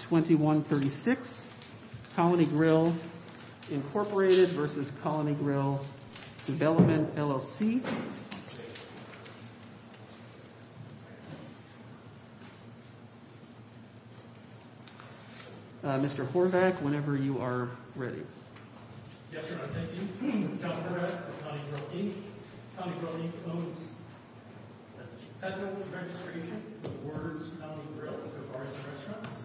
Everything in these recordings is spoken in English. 2136 Colony Grill, Inc. v. Colony Grill Development, LLC Mr. Horvath, whenever you are ready. Yes, Your Honor. Thank you. John Horvath of Colony Grill, Inc. Colony Grill, Inc. owns Federal Registration for Word's Colony Grill as far as restaurants.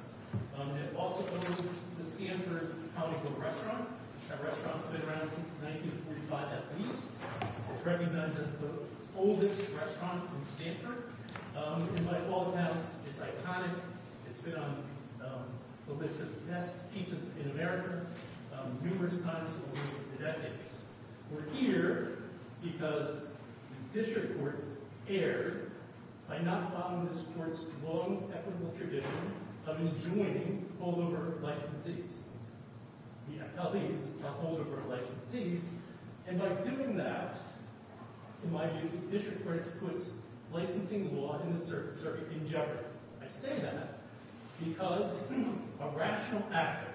It also owns the Stanford County Grill Restaurant. That restaurant's been around since 1945 at least. It's recognized as the oldest restaurant in Stanford. And by all accounts, it's iconic. It's been on the list of Best Pizzas in America numerous times over the decades. We're here because the District Court erred by not following this Court's long ethical tradition of enjoining holdover licensees. The appellees are holdover licensees. And by doing that, in my view, the District Court has put licensing law in jeopardy. I say that because a rational actor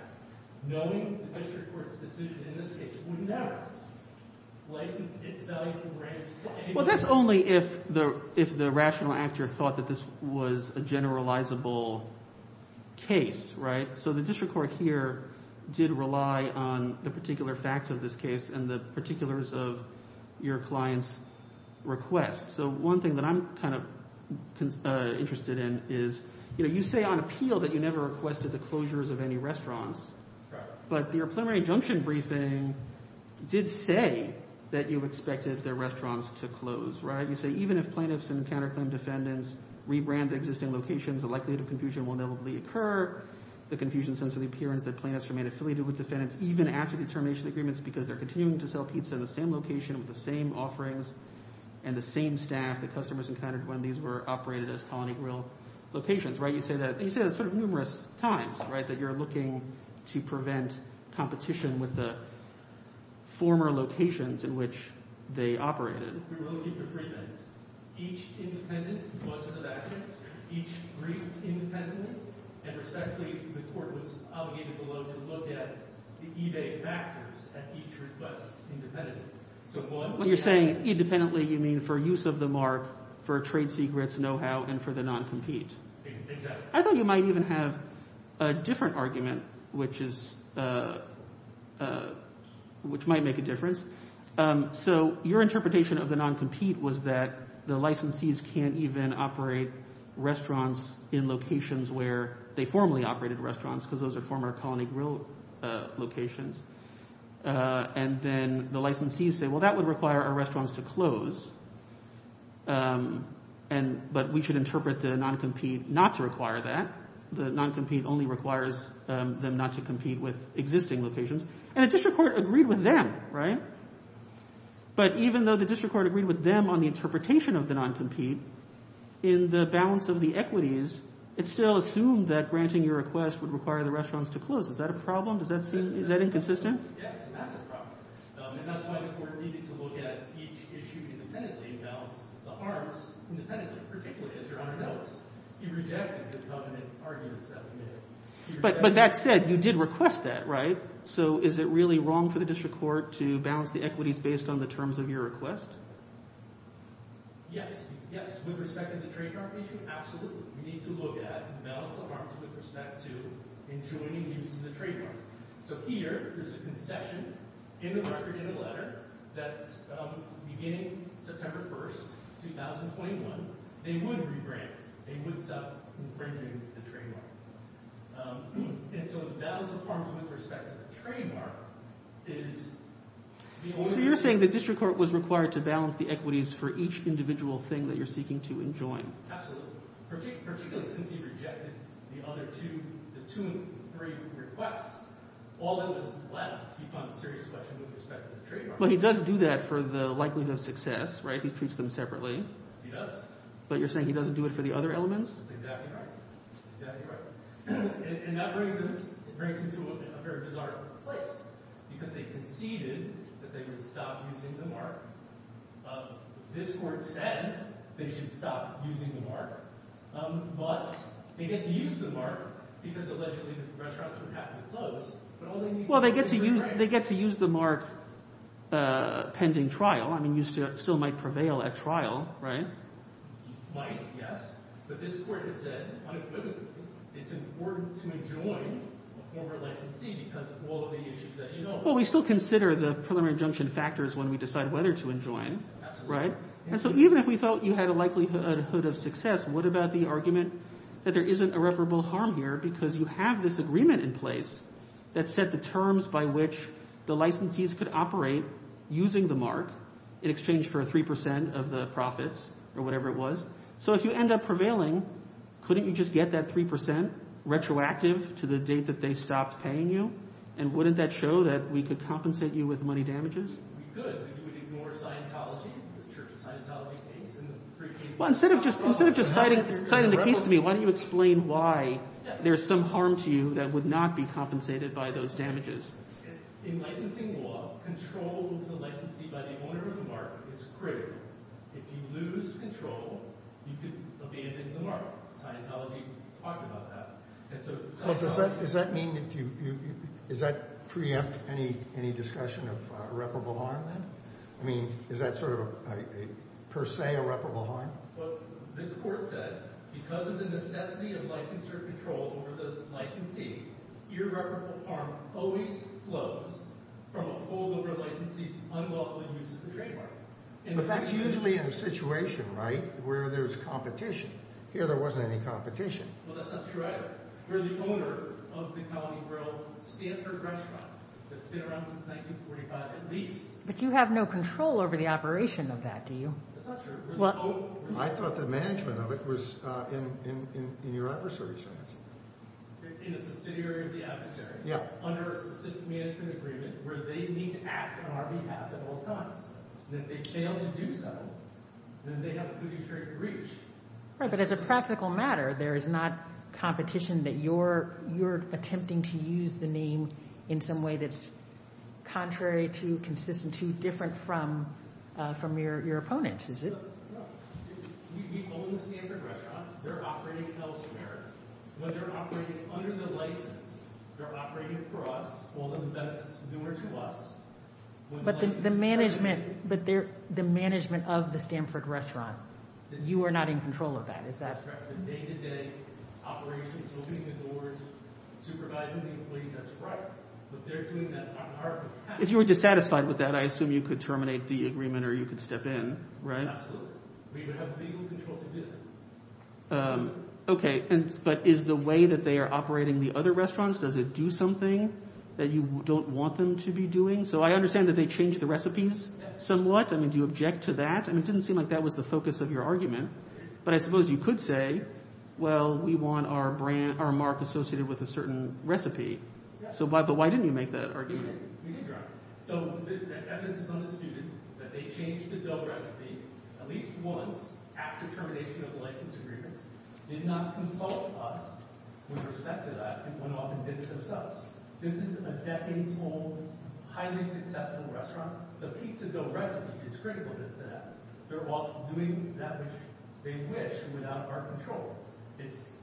knowing the District Court's decision in this case wouldn't ever license its valuable grants to anyone. Well, that's only if the rational actor thought that this was a generalizable case, right? So the District Court here did rely on the particular facts of this case and the particulars of your client's request. So one thing that I'm kind of interested in is, you know, you say on appeal that you never requested the closures of any restaurants. But your preliminary injunction briefing did say that you expected their restaurants to close, right? You say even if plaintiffs and counterclaim defendants rebrand the existing locations, the likelihood of confusion will inevitably occur. The confusion stems from the appearance that plaintiffs remain affiliated with defendants even after the termination agreements because they're continuing to sell pizza in the same location with the same offerings and the same staff that customers encountered when these were operated as colony grill locations, right? You say that sort of numerous times, right, that you're looking to prevent competition with the former locations in which they operated. What you're saying, independently, you mean for use of the mark, for trade secrets, know-how, and for the non-compete. I thought you might even have a different argument, which might make a difference. So your interpretation of the non-compete was that the licensees can't even operate restaurants in locations where they formerly operated restaurants because those are former colony grill locations. And then the licensees say, well, that would require our restaurants to close. But we should interpret the non-compete not to require that. The non-compete only requires them not to compete with existing locations. And the district court agreed with them, right? But even though the district court agreed with them on the interpretation of the non-compete, in the balance of the equities, it still assumed that granting your request would require the restaurants to close. Is that a problem? Is that inconsistent? Yeah, it's a massive problem. And that's why the court needed to look at each issue independently and balance the harms independently, particularly as Your Honor notes. He rejected the covenant arguments that we made. But that said, you did request that, right? So is it really wrong for the district court to balance the equities based on the terms of your request? Yes, yes. With respect to the trademark issue, absolutely. We need to look at and balance the harms with respect to enjoying and using the trademark. So here, there's a concession in the record in the letter that beginning September 1, 2021, they would rebrand. They would stop infringing the trademark. And so the balance of harms with respect to the trademark is the only... So you're saying the district court was required to balance the equities for each individual thing that you're seeking to enjoin. Absolutely. Particularly since he rejected the other two, the two and three requests. All that was left, he found, a serious question with respect to the trademark. But he does do that for the likelihood of success, right? He treats them separately. He does. But you're saying he doesn't do it for the other elements? That's exactly right. That's exactly right. And that brings him to a very bizarre place because they conceded that they would stop using the mark. This court says they should stop using the mark, but they get to use the mark because allegedly the restaurants were half-closed. Well, they get to use the mark pending trial. I mean, you still might prevail at trial, right? You might, yes. But this court has said unequivocally it's important to enjoin a former licensee because of all of the issues that you know about. Well, we still consider the preliminary injunction factors when we decide whether to enjoin, right? Absolutely. And so even if we thought you had a likelihood of success, what about the argument that there isn't irreparable harm here because you have this agreement in place that set the terms by which the licensees could operate using the mark in exchange for 3% of the profits or whatever it was? So if you end up prevailing, couldn't you just get that 3% retroactive to the date that they stopped paying you? And wouldn't that show that we could compensate you with money damages? We could, but you would ignore Scientology, the Church of Scientology case. Well, instead of just citing the case to me, why don't you explain why there's some harm to you that would not be compensated by those damages? In licensing law, control over the licensee by the owner of the mark is critical. If you lose control, you could abandon the mark. Scientology talked about that. Does that mean that you... Does that preempt any discussion of irreparable harm then? I mean, is that sort of per se irreparable harm? Well, this Court said, because of the necessity of licensure control over the licensee, irreparable harm always flows from a pull over a licensee's unlawful use of the trademark. But that's usually in a situation, right, where there's competition. Here there wasn't any competition. Well, that's not true either. We're the owner of the County Grill, Stanford Restaurant, that's been around since 1945 at least. But you have no control over the operation of that, do you? That's not true. I thought the management of it was in your adversary's hands. In the subsidiary of the adversary. Under a specific management agreement where they need to act on our behalf at all times. And if they fail to do so, then they have a pretty straight breach. Right, but as a practical matter, there is not competition that you're attempting to use the name in some way that's contrary to, consistent to, different from your opponent's, is it? We own the Stanford Restaurant. They're operating elsewhere. When they're operating under the license, they're operating for us, holding benefits newer to us. But the management of the Stanford Restaurant, you are not in control of that, is that? That's correct. The day-to-day operations, opening the doors, supervising the employees, that's right. But they're doing that on our behalf. If you were dissatisfied with that, I assume you could terminate the agreement or you could step in, right? Absolutely. We would have legal control to do that. Okay, but is the way that they are operating the other restaurants, does it do something that you don't want them to be doing? So I understand that they changed the recipes somewhat. Do you object to that? It didn't seem like that was the focus of your argument. But I suppose you could say, well, we want our mark associated with a certain recipe. But why didn't you make that argument? So the evidence is on the student that they changed the dough recipe at least once after termination of the license agreements, did not consult us with respect to that, and went off and did it themselves. This is a decades-old, highly successful restaurant. The pizza dough recipe is critical to that. They're off doing that which they wish without our control.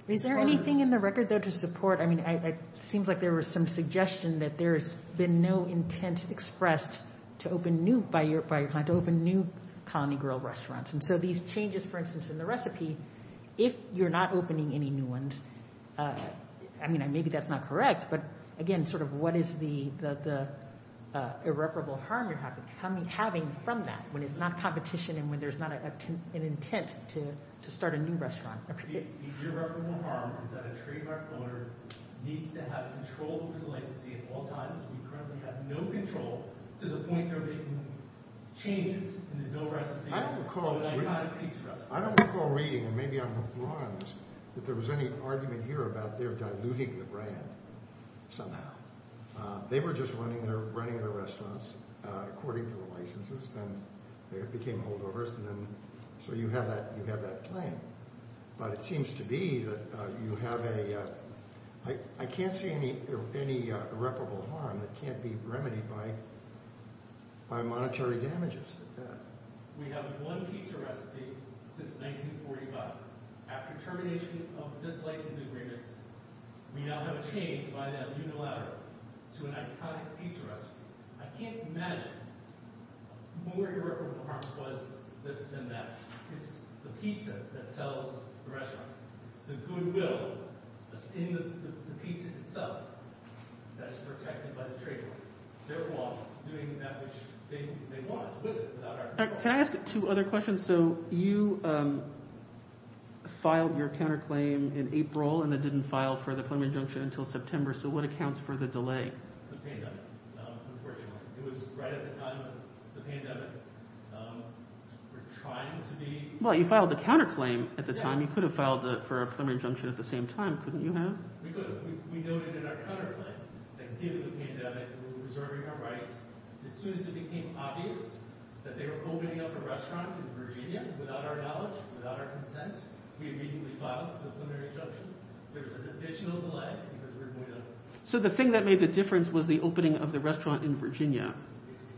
Is there anything in the record there to support? I mean, it seems like there was some suggestion that there's been no intent expressed by your client to open new Colony Grill restaurants. And so these changes, for instance, in the recipe, if you're not opening any new ones, I mean, maybe that's not correct, but again, sort of what is the irreparable harm you're having from that when it's not competition and when there's not an intent to start a new restaurant? The irreparable harm is that a trademark holder needs to have control over the licensee at all times. We currently have no control to the point where they can make changes in the dough recipe for that kind of pizza recipe. I don't recall reading, and maybe I'm wrong on this, that there was any argument here about their diluting the brand somehow. They were just running their restaurants according to the licenses, then they became holdovers, and then so you have that claim. But it seems to be that you have a... I can't see any irreparable harm that can't be remedied by monetary damages. We have one pizza recipe since 1945. After termination of this license agreement, we now have a change by the unilateral to an iconic pizza recipe. I can't imagine what more irreparable harm was than that. It's the pizza that sells the restaurant. It's the goodwill in the pizza itself that is protected by the trademark, therefore doing that which they want without our control. Can I ask two other questions? So you filed your counterclaim in April and then didn't file for the claim injunction until September. So what accounts for the delay? The pandemic, unfortunately. It was right at the time of the pandemic. We're trying to be... Well, you filed the counterclaim at the time. You could have filed for a preliminary injunction at the same time, couldn't you have? We could have. We noted in our counterclaim that given the pandemic, we were reserving our rights. As soon as it became obvious that they were opening up a restaurant in Virginia without our knowledge, without our consent, we immediately filed for the preliminary injunction. There was an additional delay because we were going to... So the thing that made the difference was the opening of the restaurant in Virginia.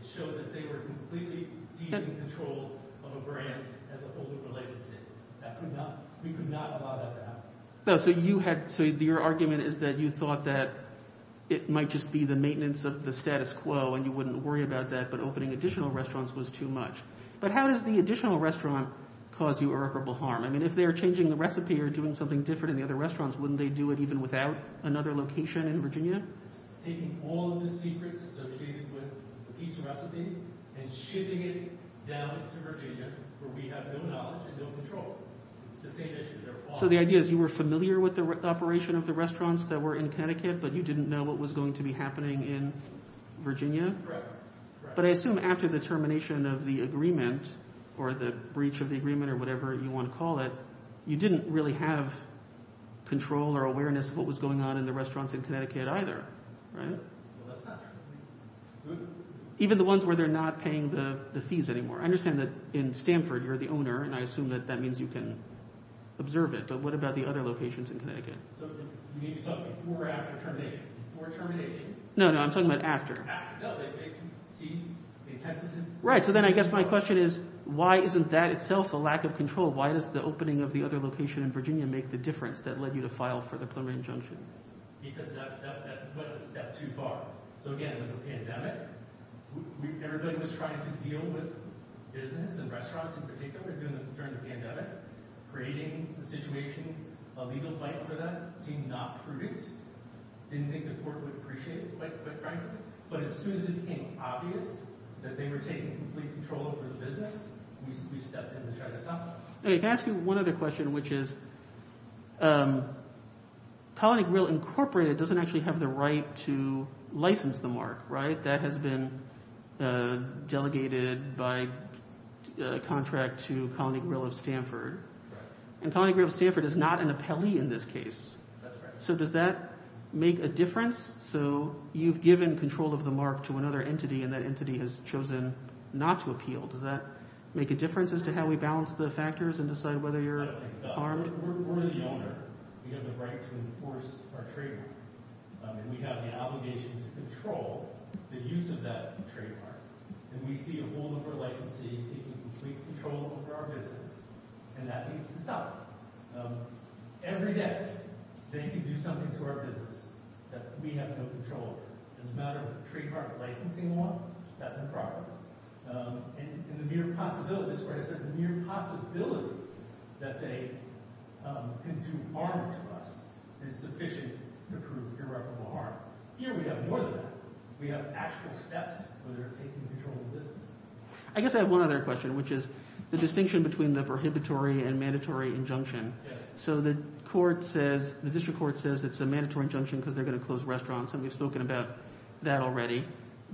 It showed that they were completely seizing control of a brand as a whole in the licensing. We could not allow that to happen. So your argument is that you thought that it might just be the maintenance of the status quo and you wouldn't worry about that, but opening additional restaurants was too much. But how does the additional restaurant cause you irreparable harm? I mean, if they're changing the recipe or doing something different in the other restaurants, wouldn't they do it even without another location in Virginia? It's taking all of the secrets associated with each recipe and shipping it down to Virginia where we have no knowledge and no control. It's the same issue. So the idea is you were familiar with the operation of the restaurants that were in Connecticut, but you didn't know what was going to be happening in Virginia? Correct. But I assume after the termination of the agreement or the breach of the agreement or whatever you want to call it, you didn't really have control or awareness of what was going on in the restaurants in Connecticut either, right? Well, that's not true. Even the ones where they're not paying the fees anymore? I understand that in Stanford you're the owner and I assume that that means you can observe it, but what about the other locations in Connecticut? So you need to talk before or after termination? Before termination? No, no, I'm talking about after. After. No, they cease, they tend to cease. Right, so then I guess my question is why isn't that itself a lack of control? Why does the opening of the other location in Virginia make the difference that led you to file for the preliminary injunction? Because that went a step too far. So again, it was a pandemic. Everybody was trying to deal with business and restaurants in particular during the pandemic. Creating the situation, a legal bite for that seemed not prudent. Didn't think the court would appreciate it quite frankly. But as soon as it became obvious that they were taking complete control over the business, we stepped in to try to stop them. Okay, can I ask you one other question, which is Colony Grill Incorporated doesn't actually have the right to license the mark, right? That has been delegated by contract to Colony Grill of Stanford. And Colony Grill of Stanford is not an appellee in this case. So does that make a difference? So you've given control of the mark to another entity and that entity has chosen not to appeal. Does that make a difference as to how we balance the factors and decide whether you're harmed? We're the owner. We have the right to enforce our trademark. And we have the obligation to control the use of that trademark. And we see a hold of our licensee taking complete control over our business. And that needs to stop. Every day they can do something to our business that we have no control over. As a matter of trademark licensing law, that's improper. And the mere possibility that they can do harm to us is sufficient to prove irreparable harm. Here we have more than that. We have actual steps where they're taking control of the business. I guess I have one other question, which is the distinction between the prohibitory and mandatory injunction. So the court says, the district court says it's a mandatory injunction because they're going to close restaurants and we've spoken about that already.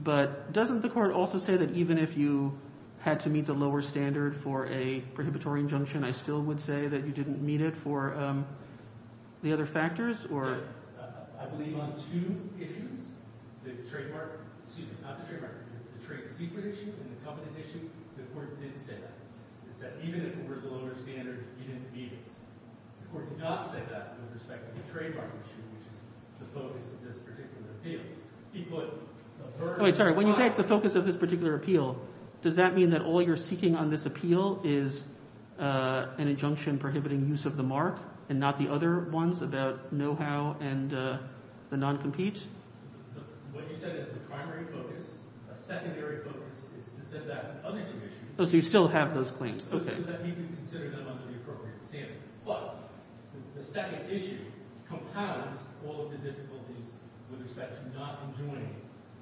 But doesn't the court also say that even if you had to meet the lower standard for a prohibitory injunction, I still would say that you didn't meet it for the other factors? I believe on two issues, the trademark, excuse me, not the trademark, the trade secret issue and the covenant issue, the court did say that. It said even if it were the lower standard, you didn't meet it. The court did not say that with respect to the trademark issue, which is the focus of this particular appeal. Sorry, when you say it's the focus of this particular appeal, does that mean that all you're seeking on this appeal is an injunction prohibiting use of the mark and not the other ones about know-how and the non-compete? What you said is the primary focus. A secondary focus is to set that un-injunction. Oh, so you still have those claims. So that people can consider them under the appropriate standard. But the second issue compounds all of the difficulties with respect to not un-joining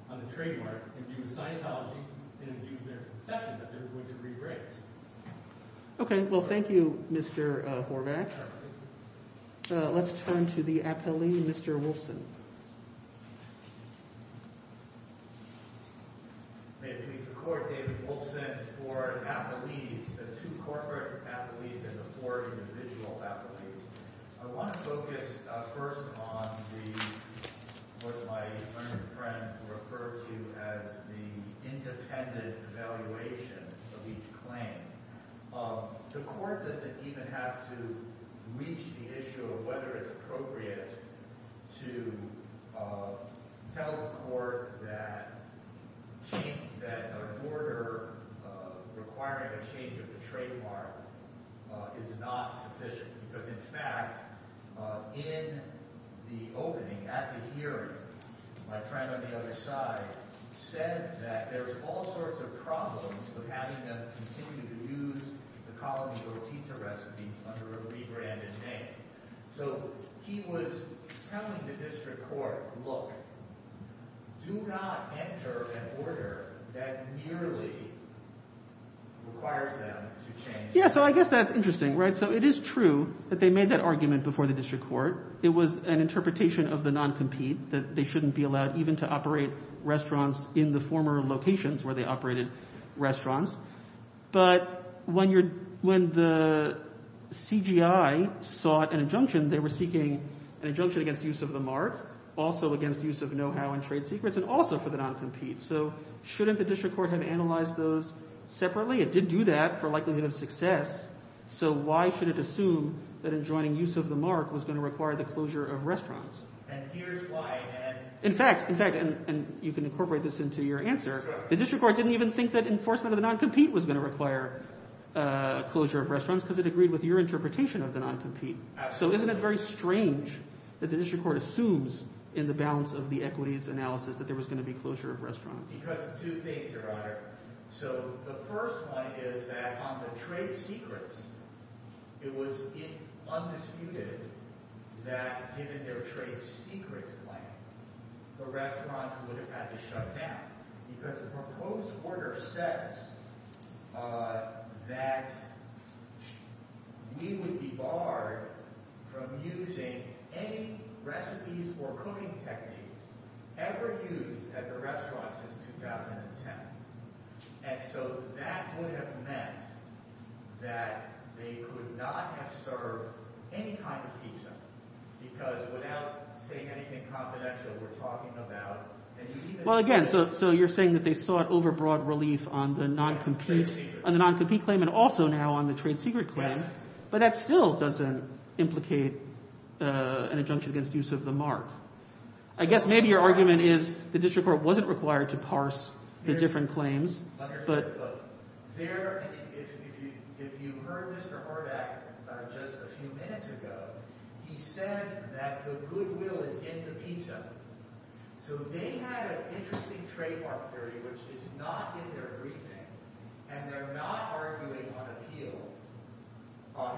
on the trademark and due to Scientology and due to their concession that they were going to re-break it. Okay, well, thank you, Mr. Horvath. Let's turn to the appellee, Mr. Wolfson. May it please the court, David Wolfson, for appellees, the two corporate appellees and the four individual appellees. I want to focus first on what my friend referred to as the independent evaluation of each claim. The court doesn't even have to reach the issue of whether it's appropriate to tell the court it's not sufficient because, in fact, in the opening, at the hearing, my friend on the other side said that there's all sorts of problems with having them continue to use the Colony Rotita recipes under a rebranded name. So he was telling the district court, look, do not enter an order that merely requires them to change. Yeah, so I guess that's interesting, right? So it is true that they made that argument before the district court. It was an interpretation of the non-compete that they shouldn't be allowed even to operate restaurants in the former locations where they operated restaurants. But when the CGI sought an injunction, they were seeking an injunction against use of the mark, also against use of know-how and trade secrets, and also for the non-compete. So shouldn't the district court have analyzed those separately? It did do that for likelihood of success. So why should it assume that enjoining use of the mark was going to require the closure of restaurants? And here's why. In fact, in fact, and you can incorporate this into your answer, the district court didn't even think that enforcement of the non-compete was going to require closure of restaurants because it agreed with your interpretation of the non-compete. So isn't it very strange that the district court assumes in the balance of the equities analysis that there was going to be closure of restaurants? Because of two things, Your Honor. So the first one is that on the trade secrets, it was undisputed that given their trade secrets plan, the restaurants would have had to shut down. Because the proposed order says that we would be barred from using any recipes or cooking techniques ever used at the restaurant since 2010. And so that would have meant that they could not have served any kind of pizza. Because without saying anything confidential, we're talking about, and you even said it. Well, again, so you're saying that they sought overbroad relief on the non-compete claim and also now on the trade secret claim. Yes. But that still doesn't implicate an injunction against use of the mark. I guess maybe your argument is the district court wasn't required to parse the different claims. But if you heard Mr. Horvath just a few minutes ago, he said that the goodwill is in the pizza. So they had an interesting trademark theory, which is not in their briefing. And they're not arguing on appeal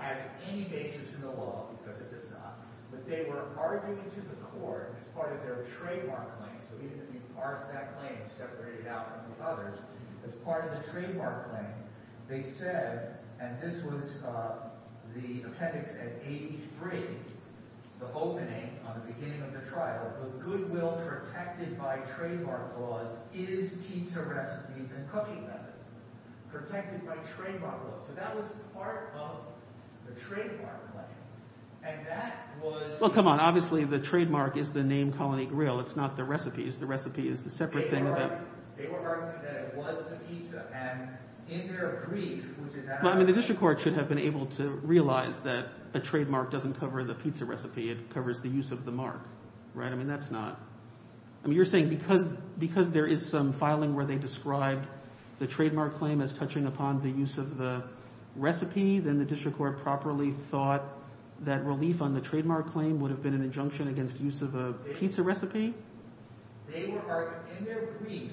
as any basis in the law, because it does not. But they were arguing to the court as part of their trademark claim. So even if you parse that claim and separate it out from the others, as part of the trademark claim, they said, and this was the appendix at 83, the opening on the beginning of the trial, the goodwill protected by trademark laws is pizza recipes and cooking methods, protected by trademark laws. So that was part of the trademark claim. Well, come on. Obviously, the trademark is the name Colony Grill. It's not the recipes. The recipe is the separate thing. They were arguing that it was the pizza. And in their brief, which is out of the way. Well, I mean, the district court should have been able to realize that a trademark doesn't cover the pizza recipe. It covers the use of the mark, right? I mean, that's not. I mean, you're saying because there is some filing where they described the trademark claim as touching upon the use of the recipe, then the district court properly thought that relief on the trademark claim would have been an injunction against use of a pizza recipe? They were arguing in their brief,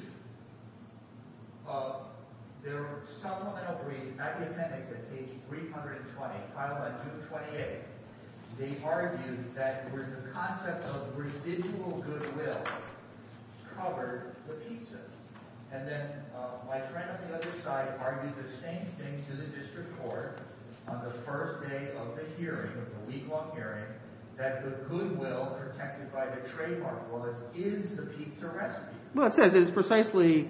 their supplemental brief, appendix at page 320, filed on June 28, they argued that the concept of residual goodwill covered the pizza. And then my friend on the other side argued the same thing to the district court on the first day of the hearing, of the week-long hearing, that the goodwill protected by the trademark was, is the pizza recipe. Well, it says it's precisely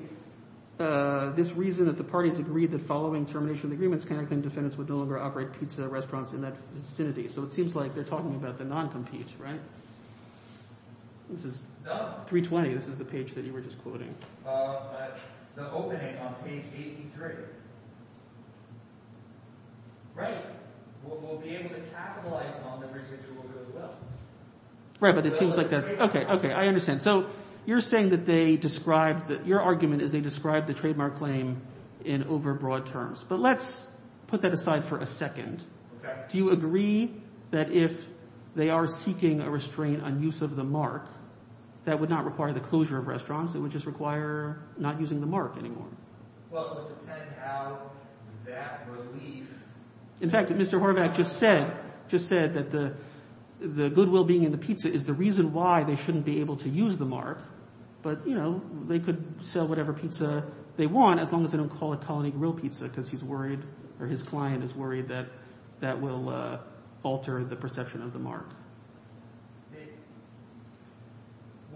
this reason that the parties agreed that following termination of the agreements, Connecticut defendants would no longer operate pizza restaurants in that vicinity. So it seems like they're talking about the non-competes, right? This is 320. This is the page that you were just quoting. The opening on page 83. Right. We'll be able to capitalize on the residual goodwill. Right, but it seems like that's, OK, OK, I understand. So you're saying that they described, your argument is they described the trademark claim in over-broad terms. But let's put that aside for a second. Do you agree that if they are seeking a restraint on use of the mark, that would not require the closure of restaurants? It would just require not using the mark anymore? Well, it would depend how that relief. In fact, Mr. Horvath just said, just said that the goodwill being in the pizza is the reason why they shouldn't be able to use the mark. But, you know, they could sell whatever pizza they want, as long as they don't call it Colony Grill Pizza, because he's worried, or his client is worried that that will alter the perception of the mark. The,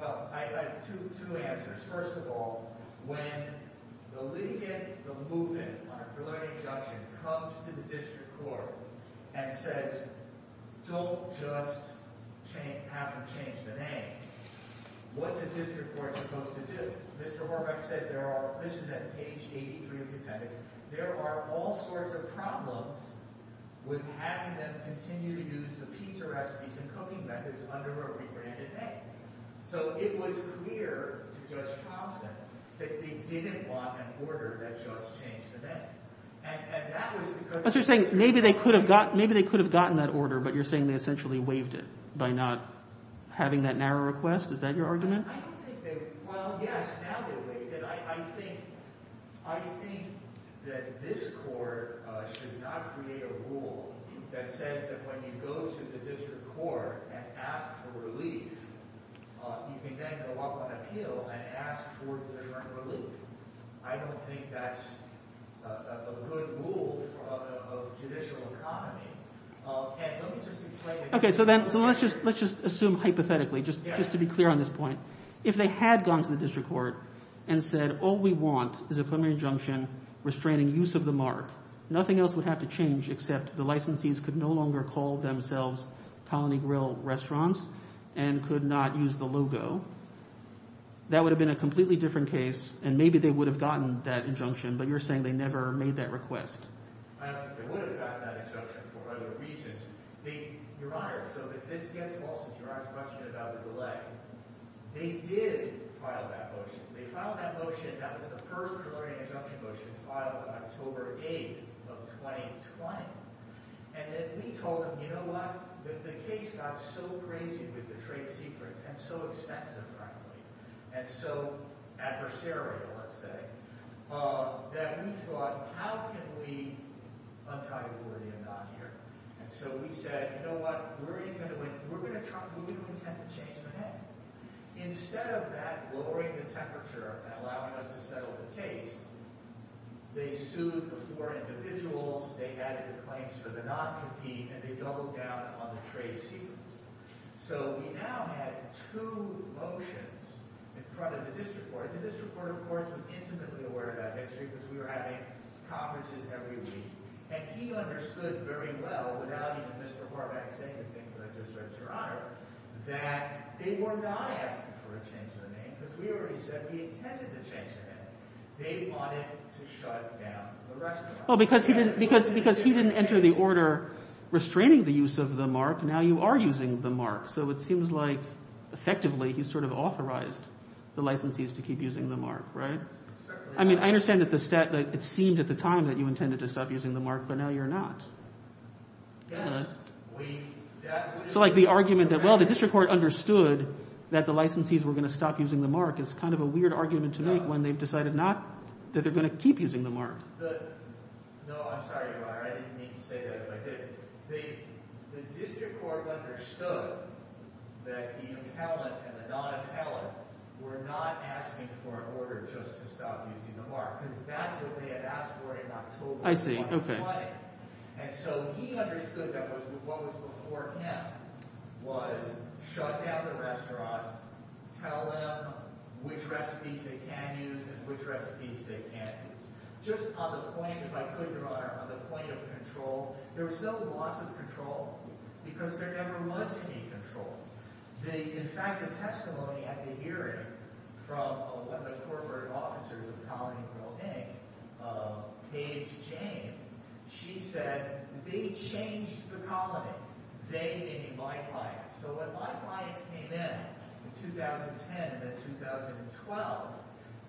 well, I have two answers. First of all, when the litigant, the movement, under preliminary injunction, comes to the district court and says, don't just change, have them change the name, what's the district court supposed to do? Mr. Horvath said there are, this is at page 83 of the appendix, there are all sorts of problems with having them continue to use the pizza recipes and cooking methods under a rebranded name. So it was clear to Judge Thompson that they didn't want an order that just changed the name. And that was because... But you're saying maybe they could have gotten that order, but you're saying they essentially waived it by not having that narrow request? Is that your argument? I don't think they... Well, yes, now they've waived it. I think, I think that this court should not create a rule that says that when you go to the district court and ask for relief, you can then go up on appeal and ask for their own relief. I don't think that's a good rule of judicial economy. And let me just explain... Okay, so let's just assume hypothetically, just to be clear on this point. If they had gone to the district court and said, all we want is a preliminary injunction restraining use of the mark, nothing else would have to change except the licensees could no longer call themselves Colony Grill restaurants and could not use the logo. That would have been a completely different case, and maybe they would have gotten that injunction, but you're saying they never made that request. I don't think they would have gotten that injunction for other reasons. Your Honor, so this gets also to Your Honor's question about the delay. They did file that motion. They filed that motion that was the first preliminary injunction motion filed on October 8th of 2020, and then we told them, you know what? The case got so crazy with the trade secrets and so expensive, frankly, and so adversarial, let's say, that we thought, how can we untie the board and not hear? And so we said, you know what? We're going to attempt to change the name. Instead of that lowering the temperature and allowing us to settle the case, they sued the four individuals, they added the claims for the non-competing, and they doubled down on the trade secrets. So we now had two motions in front of the district court. The district court, of course, was intimately aware of that history because we were having conferences every week, and he understood very well, without even Mr. Horvath saying the things that I just read, Your Honor, that they were not asking for a change in the name because we already said we intended to change the name. They wanted to shut down the restaurant. Well, because he didn't enter the order restraining the use of the mark, now you are using the mark, so it seems like, effectively, he sort of authorized the licensees to keep using the mark, right? I mean, I understand that it seemed at the time that you intended to stop using the mark, but now you're not. Yes. So, like, the argument that, well, the district court understood that the licensees were going to stop using the mark is kind of a weird argument to make when they've decided not, that they're going to keep using the mark. No, I'm sorry, Your Honor. I didn't mean to say that, but the district court understood that the accountant and the non-accountant were not asking for an order just to stop using the mark because that's what they had asked for in October of 2020. I see. Okay. And so he understood that what was before him was shut down the restaurants, tell them which recipes they can use and which recipes they can't use, just on the point, if I could, Your Honor, on the point of control. There was no loss of control because there never was any control. In fact, the testimony at the hearing from one of the corporate officers of the Colony of Pearl Hays, Paige James, she said they changed the colony. They named my clients. So when my clients came in in 2010 and 2012,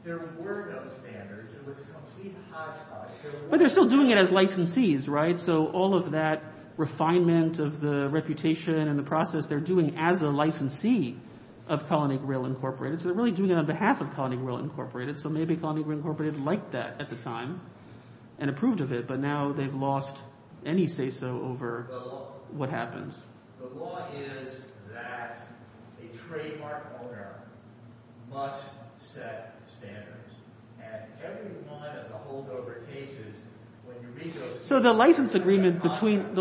there were no standards. It was complete hodgepodge. But they're still doing it as licensees, right? So all of that refinement of the reputation and the process they're doing as a licensee of Colony Grill Incorporated. So they're really doing it on behalf of Colony Grill Incorporated. So maybe Colony Grill Incorporated liked that at the time and approved of it, but now they've lost any say-so over what happens. The law is that a trademark owner must set standards. And every one of the holdover cases, when you reach those cases... So the license agreement between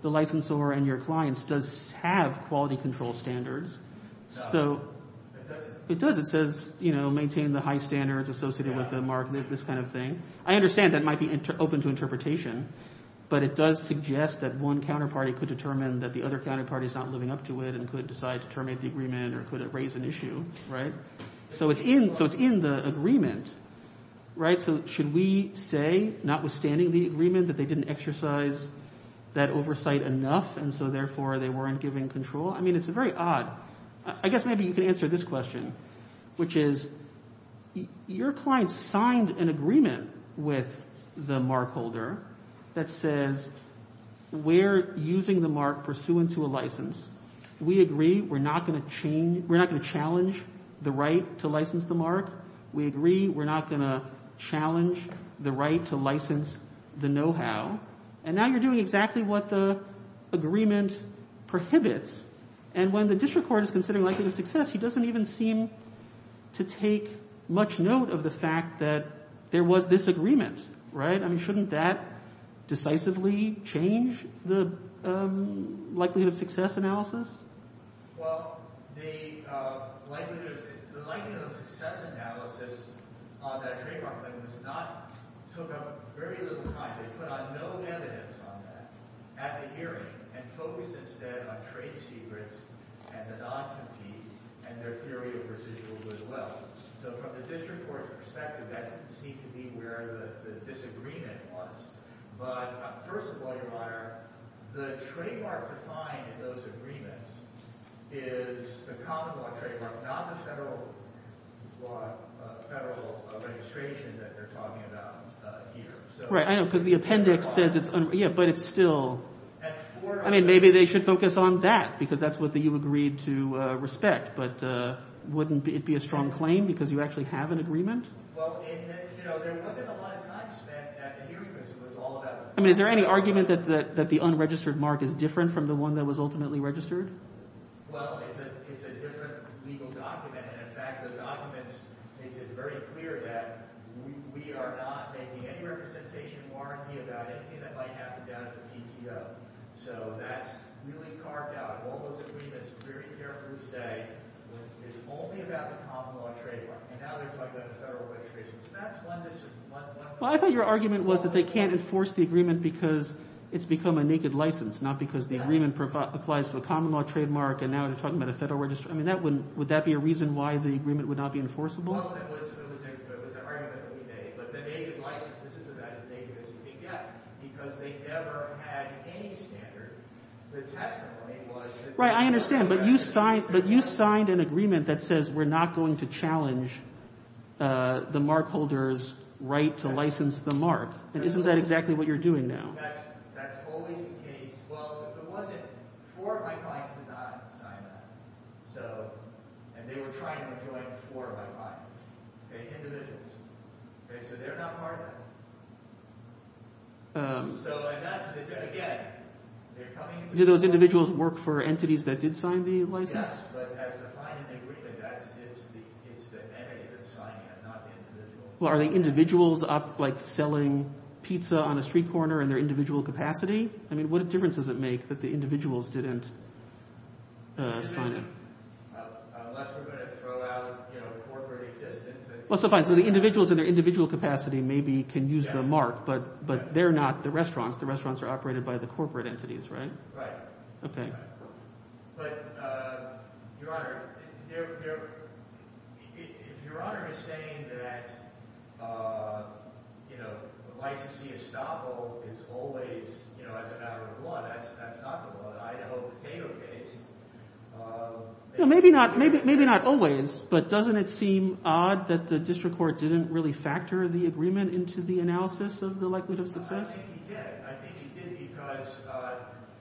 the licensor and your clients does have quality control standards. No. It doesn't. It does. It says, you know, maintain the high standards associated with the mark, this kind of thing. I understand that might be open to interpretation, but it does suggest that one counterparty could determine that the other counterparty is not living up to it and could decide to terminate the agreement or could raise an issue, right? So it's in the agreement, right? So should we say, notwithstanding the agreement, that they didn't exercise that oversight enough and so therefore they weren't given control? I mean, it's very odd. I guess maybe you can answer this question, which is, your client signed an agreement with the mark holder that says, we're using the mark pursuant to a license. We agree we're not going to challenge the right to license the mark. We agree we're not going to challenge the right to license the know-how. And now you're doing exactly what the agreement prohibits. And when the district court is considering likelihood of success, he doesn't even seem to take much note of the fact that there was this agreement, right? I mean, shouldn't that decisively change the likelihood of success analysis? Well, the likelihood of success analysis on that trademark claim took up very little time. They put on no evidence on that at the hearing and focused instead on trade secrets and the non-competes and their theory of residuals as well. So from the district court's perspective, that didn't seem to be where the disagreement was. But first of all, Your Honor, the trademark defined in those agreements is the common law trademark, not the federal registration that they're talking about here. Right, I know, because the appendix says it's... Yeah, but it's still... I mean, maybe they should focus on that because that's what you agreed to respect, but wouldn't it be a strong claim because you actually have an agreement? Well, you know, there wasn't a lot of time spent at the hearing because it was all about... I mean, is there any argument that the unregistered mark is different from the one that was ultimately registered? Well, it's a different legal document, and in fact, the document makes it very clear that we are not making any representation warranty about it and it might happen down at the PTO. So that's really carved out. All those agreements very carefully say it's only about the common law trademark, and now they're talking about the federal registration. So that's one... Well, I thought your argument was that they can't enforce the agreement because it's become a naked license, not because the agreement applies to a common law trademark and now they're talking about a federal registration. I mean, would that be a reason why the agreement would not be enforceable? Well, it was an argument that we made, but the naked license, this is about as naked as you can get, because they never had any standard. The testimony was... Right, I understand, but you signed an agreement that says we're not going to challenge the mark holder's right to license the mark. Isn't that exactly what you're doing now? That's always the case. Well, if it wasn't, four of my clients did not sign that. So... And they were trying to join four of my clients. Okay? Individuals. Okay, so they're not part of it. So, and that's... Again, they're coming... Yes, but as defined in the agreement, it's the entity that's signing it, not the individual. Unless we're going to throw out corporate existence... Individuals in their individual capacity maybe can use the mark, but they're not the restaurants. The restaurants are operated by the corporate entities, right? Right. Okay. But, Your Honor, if Your Honor is saying that, you know, licensee estoppel is always, you know, as a matter of law, that's not the Idaho potato case... Maybe not always, but doesn't it seem odd that the district court didn't really factor the agreement into the analysis of the likelihood of success? I think he did. I think he did because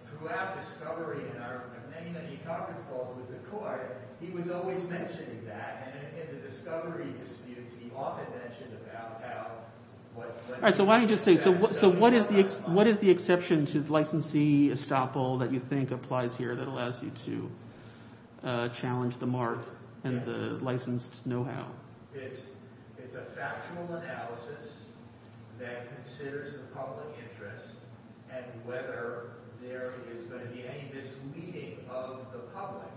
throughout discovery in our many, many conference calls with the court, he was always mentioning that, and in the discovery disputes, he often mentioned about how... All right, so why don't you just say, so what is the exception to licensee estoppel that you think applies here that allows you to challenge the mark and the licensed know-how? It's a factual analysis that considers the public interest and whether there is going to be any misleading of the public.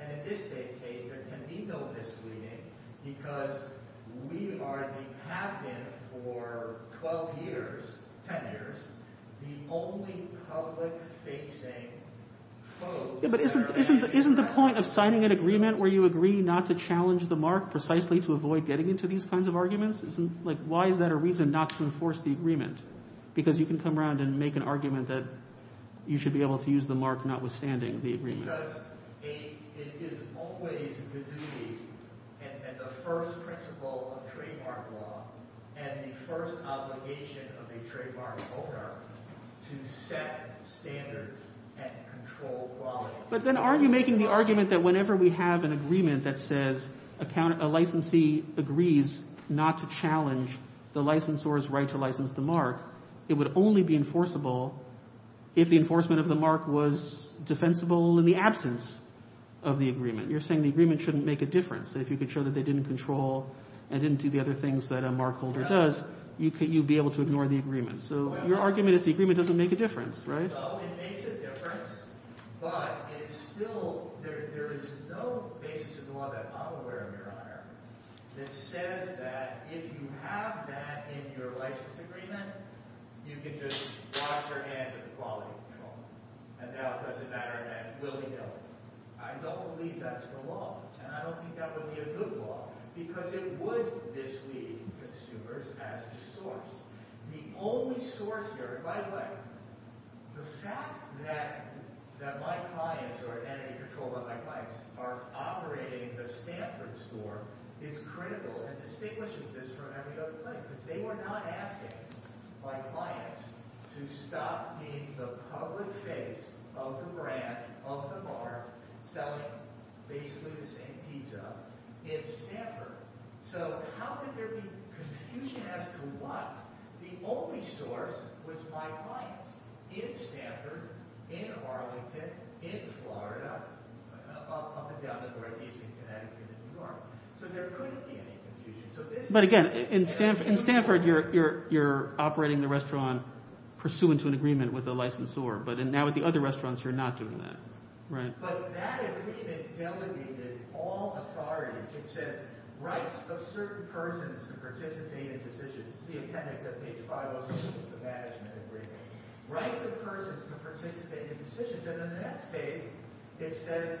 And in this case, there can be no misleading because we have been for 12 years, 10 years, the only public-facing folks... But isn't the point of signing an agreement where you agree not to challenge the mark precisely to avoid getting into these kinds of arguments? Like, why is that a reason not to enforce the agreement? Because you can come around and make an argument that you should be able to use the mark notwithstanding the agreement. Because it is always the duty and the first principle of trademark law and the first obligation of a trademark holder to set standards and control quality. But then aren't you making the argument that whenever we have an agreement that says a licensee agrees not to challenge the licensor's right to license the mark, it would only be enforceable if the enforcement of the mark was defensible in the absence of the agreement? You're saying the agreement shouldn't make a difference. If you could show that they didn't control and didn't do the other things that a mark holder does, you'd be able to ignore the agreement. So your argument is the agreement doesn't make a difference, right? No, it makes a difference. But it's still... There is no basis of law that I'm aware of, Your Honor, that says that if you have that in your license agreement, you can just wash your hands of the quality control. And now it doesn't matter, and will be held. I don't believe that's the law. And I don't think that would be a good law because it would mislead consumers as to source. The only source here... By the way, the fact that my clients, or entity controlled by my clients, are operating the Stanford store is critical and distinguishes this from every other place because they were not asking my clients to stop being the public face of the brand, of the mark, selling basically the same pizza in Stanford. So how could there be confusion as to what? The only source was my clients, in Stanford, in Arlington, in Florida, up and down the Great East and Connecticut and New York. So there couldn't be any confusion. But again, in Stanford, you're operating the restaurant pursuant to an agreement with a licensor. But now with the other restaurants, you're not doing that. But that agreement delegated all authority. It says rights of certain persons to participate in decisions. It's the appendix at page 506. It's the management agreement. Rights of persons to participate in decisions. And in the next page, it says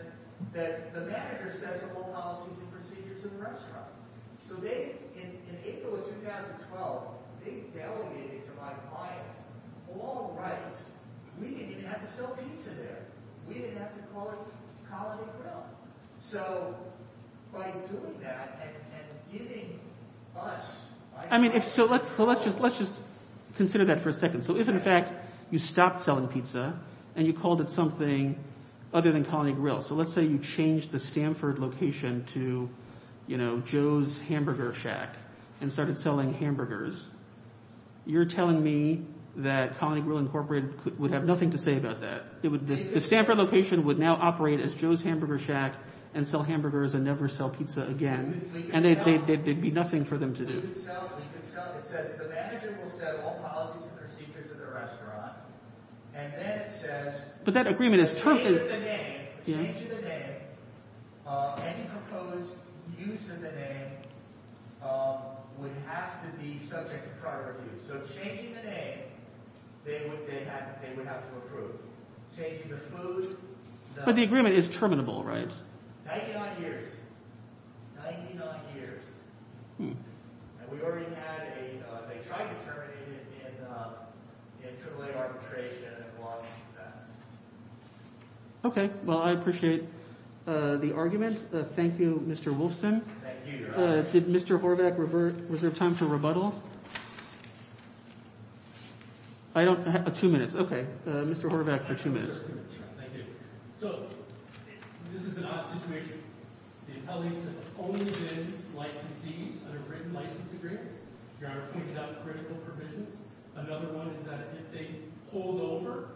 that the manager says all policies and procedures of the restaurant. So they, in April of 2012, they delegated to my clients all rights. We didn't even have to sell pizza there. We didn't have to call it a grill. So by doing that and giving us... I mean, so let's just consider that for a second. So if, in fact, you stopped selling pizza and you called it something other than Colony Grill. So let's say you changed the Stanford location to Joe's Hamburger Shack and started selling hamburgers. You're telling me that Colony Grill Incorporated would have nothing to say about that. The Stanford location would now operate as Joe's Hamburger Shack and sell hamburgers and never sell pizza again. And there'd be nothing for them to do. We could sell. It says the manager will set all policies and procedures of the restaurant. And then it says... But that agreement is termed as... Changing the name. Changing the name. Any proposed use of the name would have to be subject to prior review. So changing the name, they would have to approve. Changing the food... But the agreement is terminable, right? 99 years. 99 years. And we already had a... They tried to terminate it in AAA arbitration and lost that. Okay. Well, I appreciate the argument. Thank you, Mr. Wolfson. Thank you. Did Mr. Horvath revert? I don't... Two minutes. Okay. Mr. Horvath for two minutes. Thank you. So this is an odd situation. The appellees have only been licensees under written license agreements. They are pointed out critical provisions. Another one is that if they pulled over,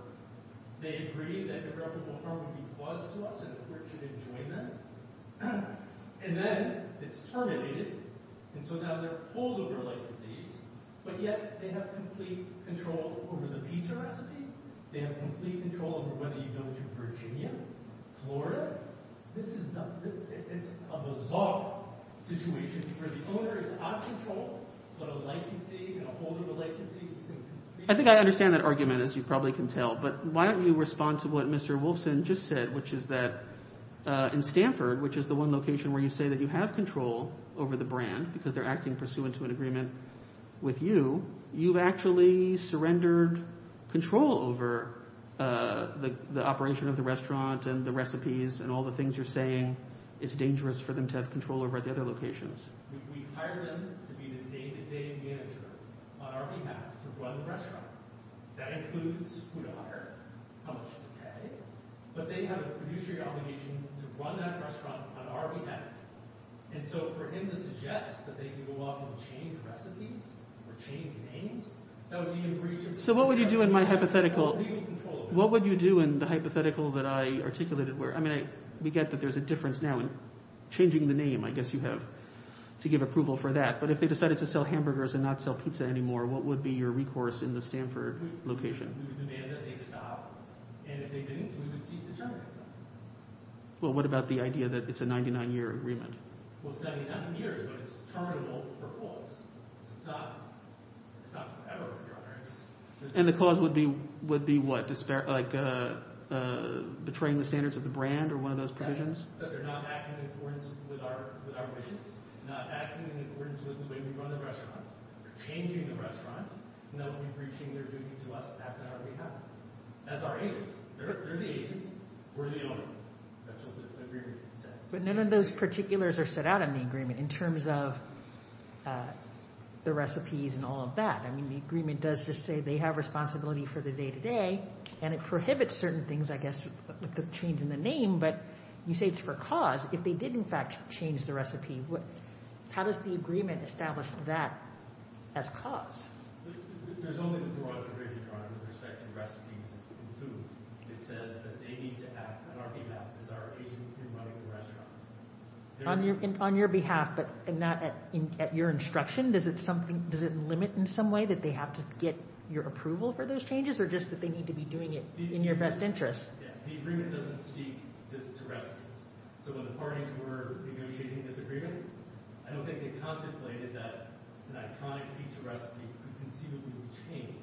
they agree that irreparable harm would be caused to us and the court should enjoin them. And then it's terminated. And so now they're pulled over licensees. But yet they have complete control over the pizza recipe. They have complete control over whether you go to Virginia, Florida. This is not... It's a bizarre situation where the owner is out of control, but a licensee, a holder of a licensee... I think I understand that argument, as you probably can tell. But why don't you respond to what Mr. Wolfson just said, which is that in Stanford, which is the one location where you say that you have control over the brand because they're acting pursuant to an agreement with you, you've actually surrendered control over the operation of the restaurant and the recipes and all the things you're saying. It's dangerous for them to have control over the other locations. We hire them to be the day-to-day manager on our behalf to run the restaurant. That includes who to hire, how much to pay. But they have a fiduciary obligation to run that restaurant on our behalf. And so for him to suggest that they could go off and change recipes or change names... So what would you do in my hypothetical... What would you do in the hypothetical that I articulated where... I mean, we get that there's a difference now in changing the name, I guess you have, to give approval for that. But if they decided to sell hamburgers and not sell pizza anymore, what would be your recourse in the Stanford location? We would demand that they stop. And if they didn't, we would cease the term. Well, what about the idea that it's a 99-year agreement? Well, it's 99 years, but it's terminable for cause. It's not forever, Your Honor. And the cause would be what? Like betraying the standards of the brand or one of those provisions? That they're not acting in accordance with our wishes, not acting in accordance with the way we run the restaurant. They're changing the restaurant, and that would be breaching their duty to us on our behalf as our agents. They're the agents. We're the owner. That's what the agreement says. But none of those particulars are set out in the agreement in terms of the recipes and all of that. I mean, the agreement does just say they have responsibility for the day-to-day, and it prohibits certain things, I guess, with the change in the name, but you say it's for cause. If they did, in fact, change the recipe, how does the agreement establish that as cause? There's only the broad provision, Your Honor, with respect to recipes and food. It says that they need to act on our behalf as our agent in running the restaurant. On your behalf, but not at your instruction? Does it limit in some way that they have to get your approval for those changes, or just that they need to be doing it in your best interest? The agreement doesn't speak to recipes. So when the parties were negotiating this agreement, I don't think they contemplated that an iconic pizza recipe could conceivably be changed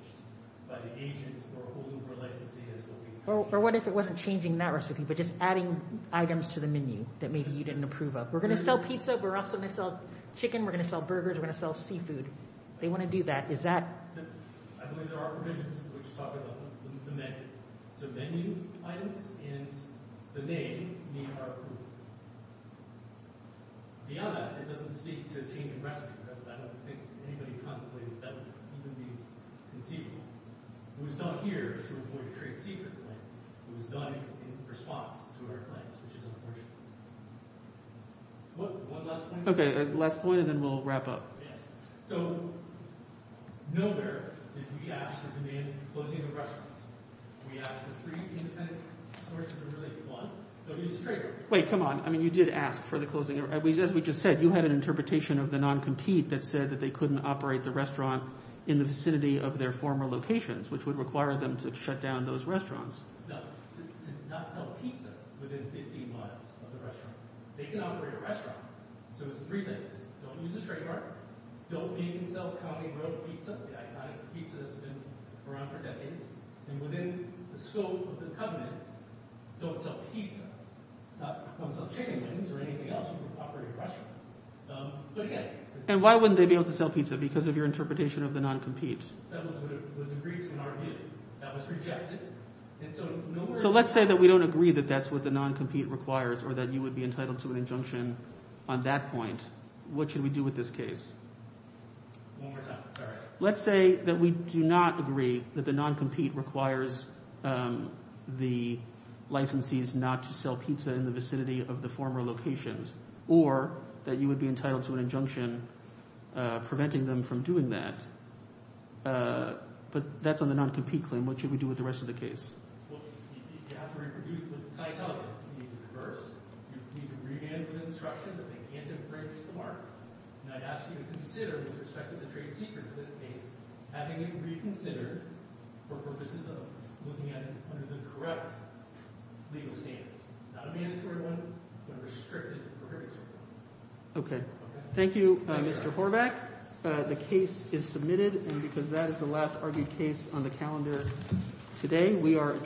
by the agents who are holding her license against her. Or what if it wasn't changing that recipe, but just adding items to the menu that maybe you didn't approve of? We're going to sell pizza, we're also going to sell chicken, we're going to sell burgers, we're going to sell seafood. They want to do that. Is that... I believe there are provisions which talk about the menu. So menu items and the name need our approval. Beyond that, it doesn't speak to changing recipes. I don't think anybody contemplated that would even be conceivable. It was done here to avoid a trade secret. It was done in response to our claims, which is unfortunate. One last point. Okay, last point, and then we'll wrap up. Yes. So nowhere did we ask to demand closing of restaurants. We asked for three independent sources of relief. One, W's Trader. Wait, come on. I mean, you did ask for the closing. As we just said, you had an interpretation of the non-compete that said that they couldn't operate the restaurant in the vicinity of their former locations, which would require them to shut down those restaurants. And why wouldn't they be able to sell pizza? Because of your interpretation of the non-compete. So let's say that we don't agree that that's what the non-compete requires or that you would be entitled to an injunction on that point. What should we do with this case? Let's say that we do not agree that the non-compete requires the licensees not to sell pizza in the vicinity of the former locations or that you would be entitled to an injunction preventing them from doing that. But that's on the non-compete claim. What should we do with the rest of the case? Okay. Thank you, Mr. Horvath. The case is submitted and because that is the last argued case on the calendar today, we are adjourned.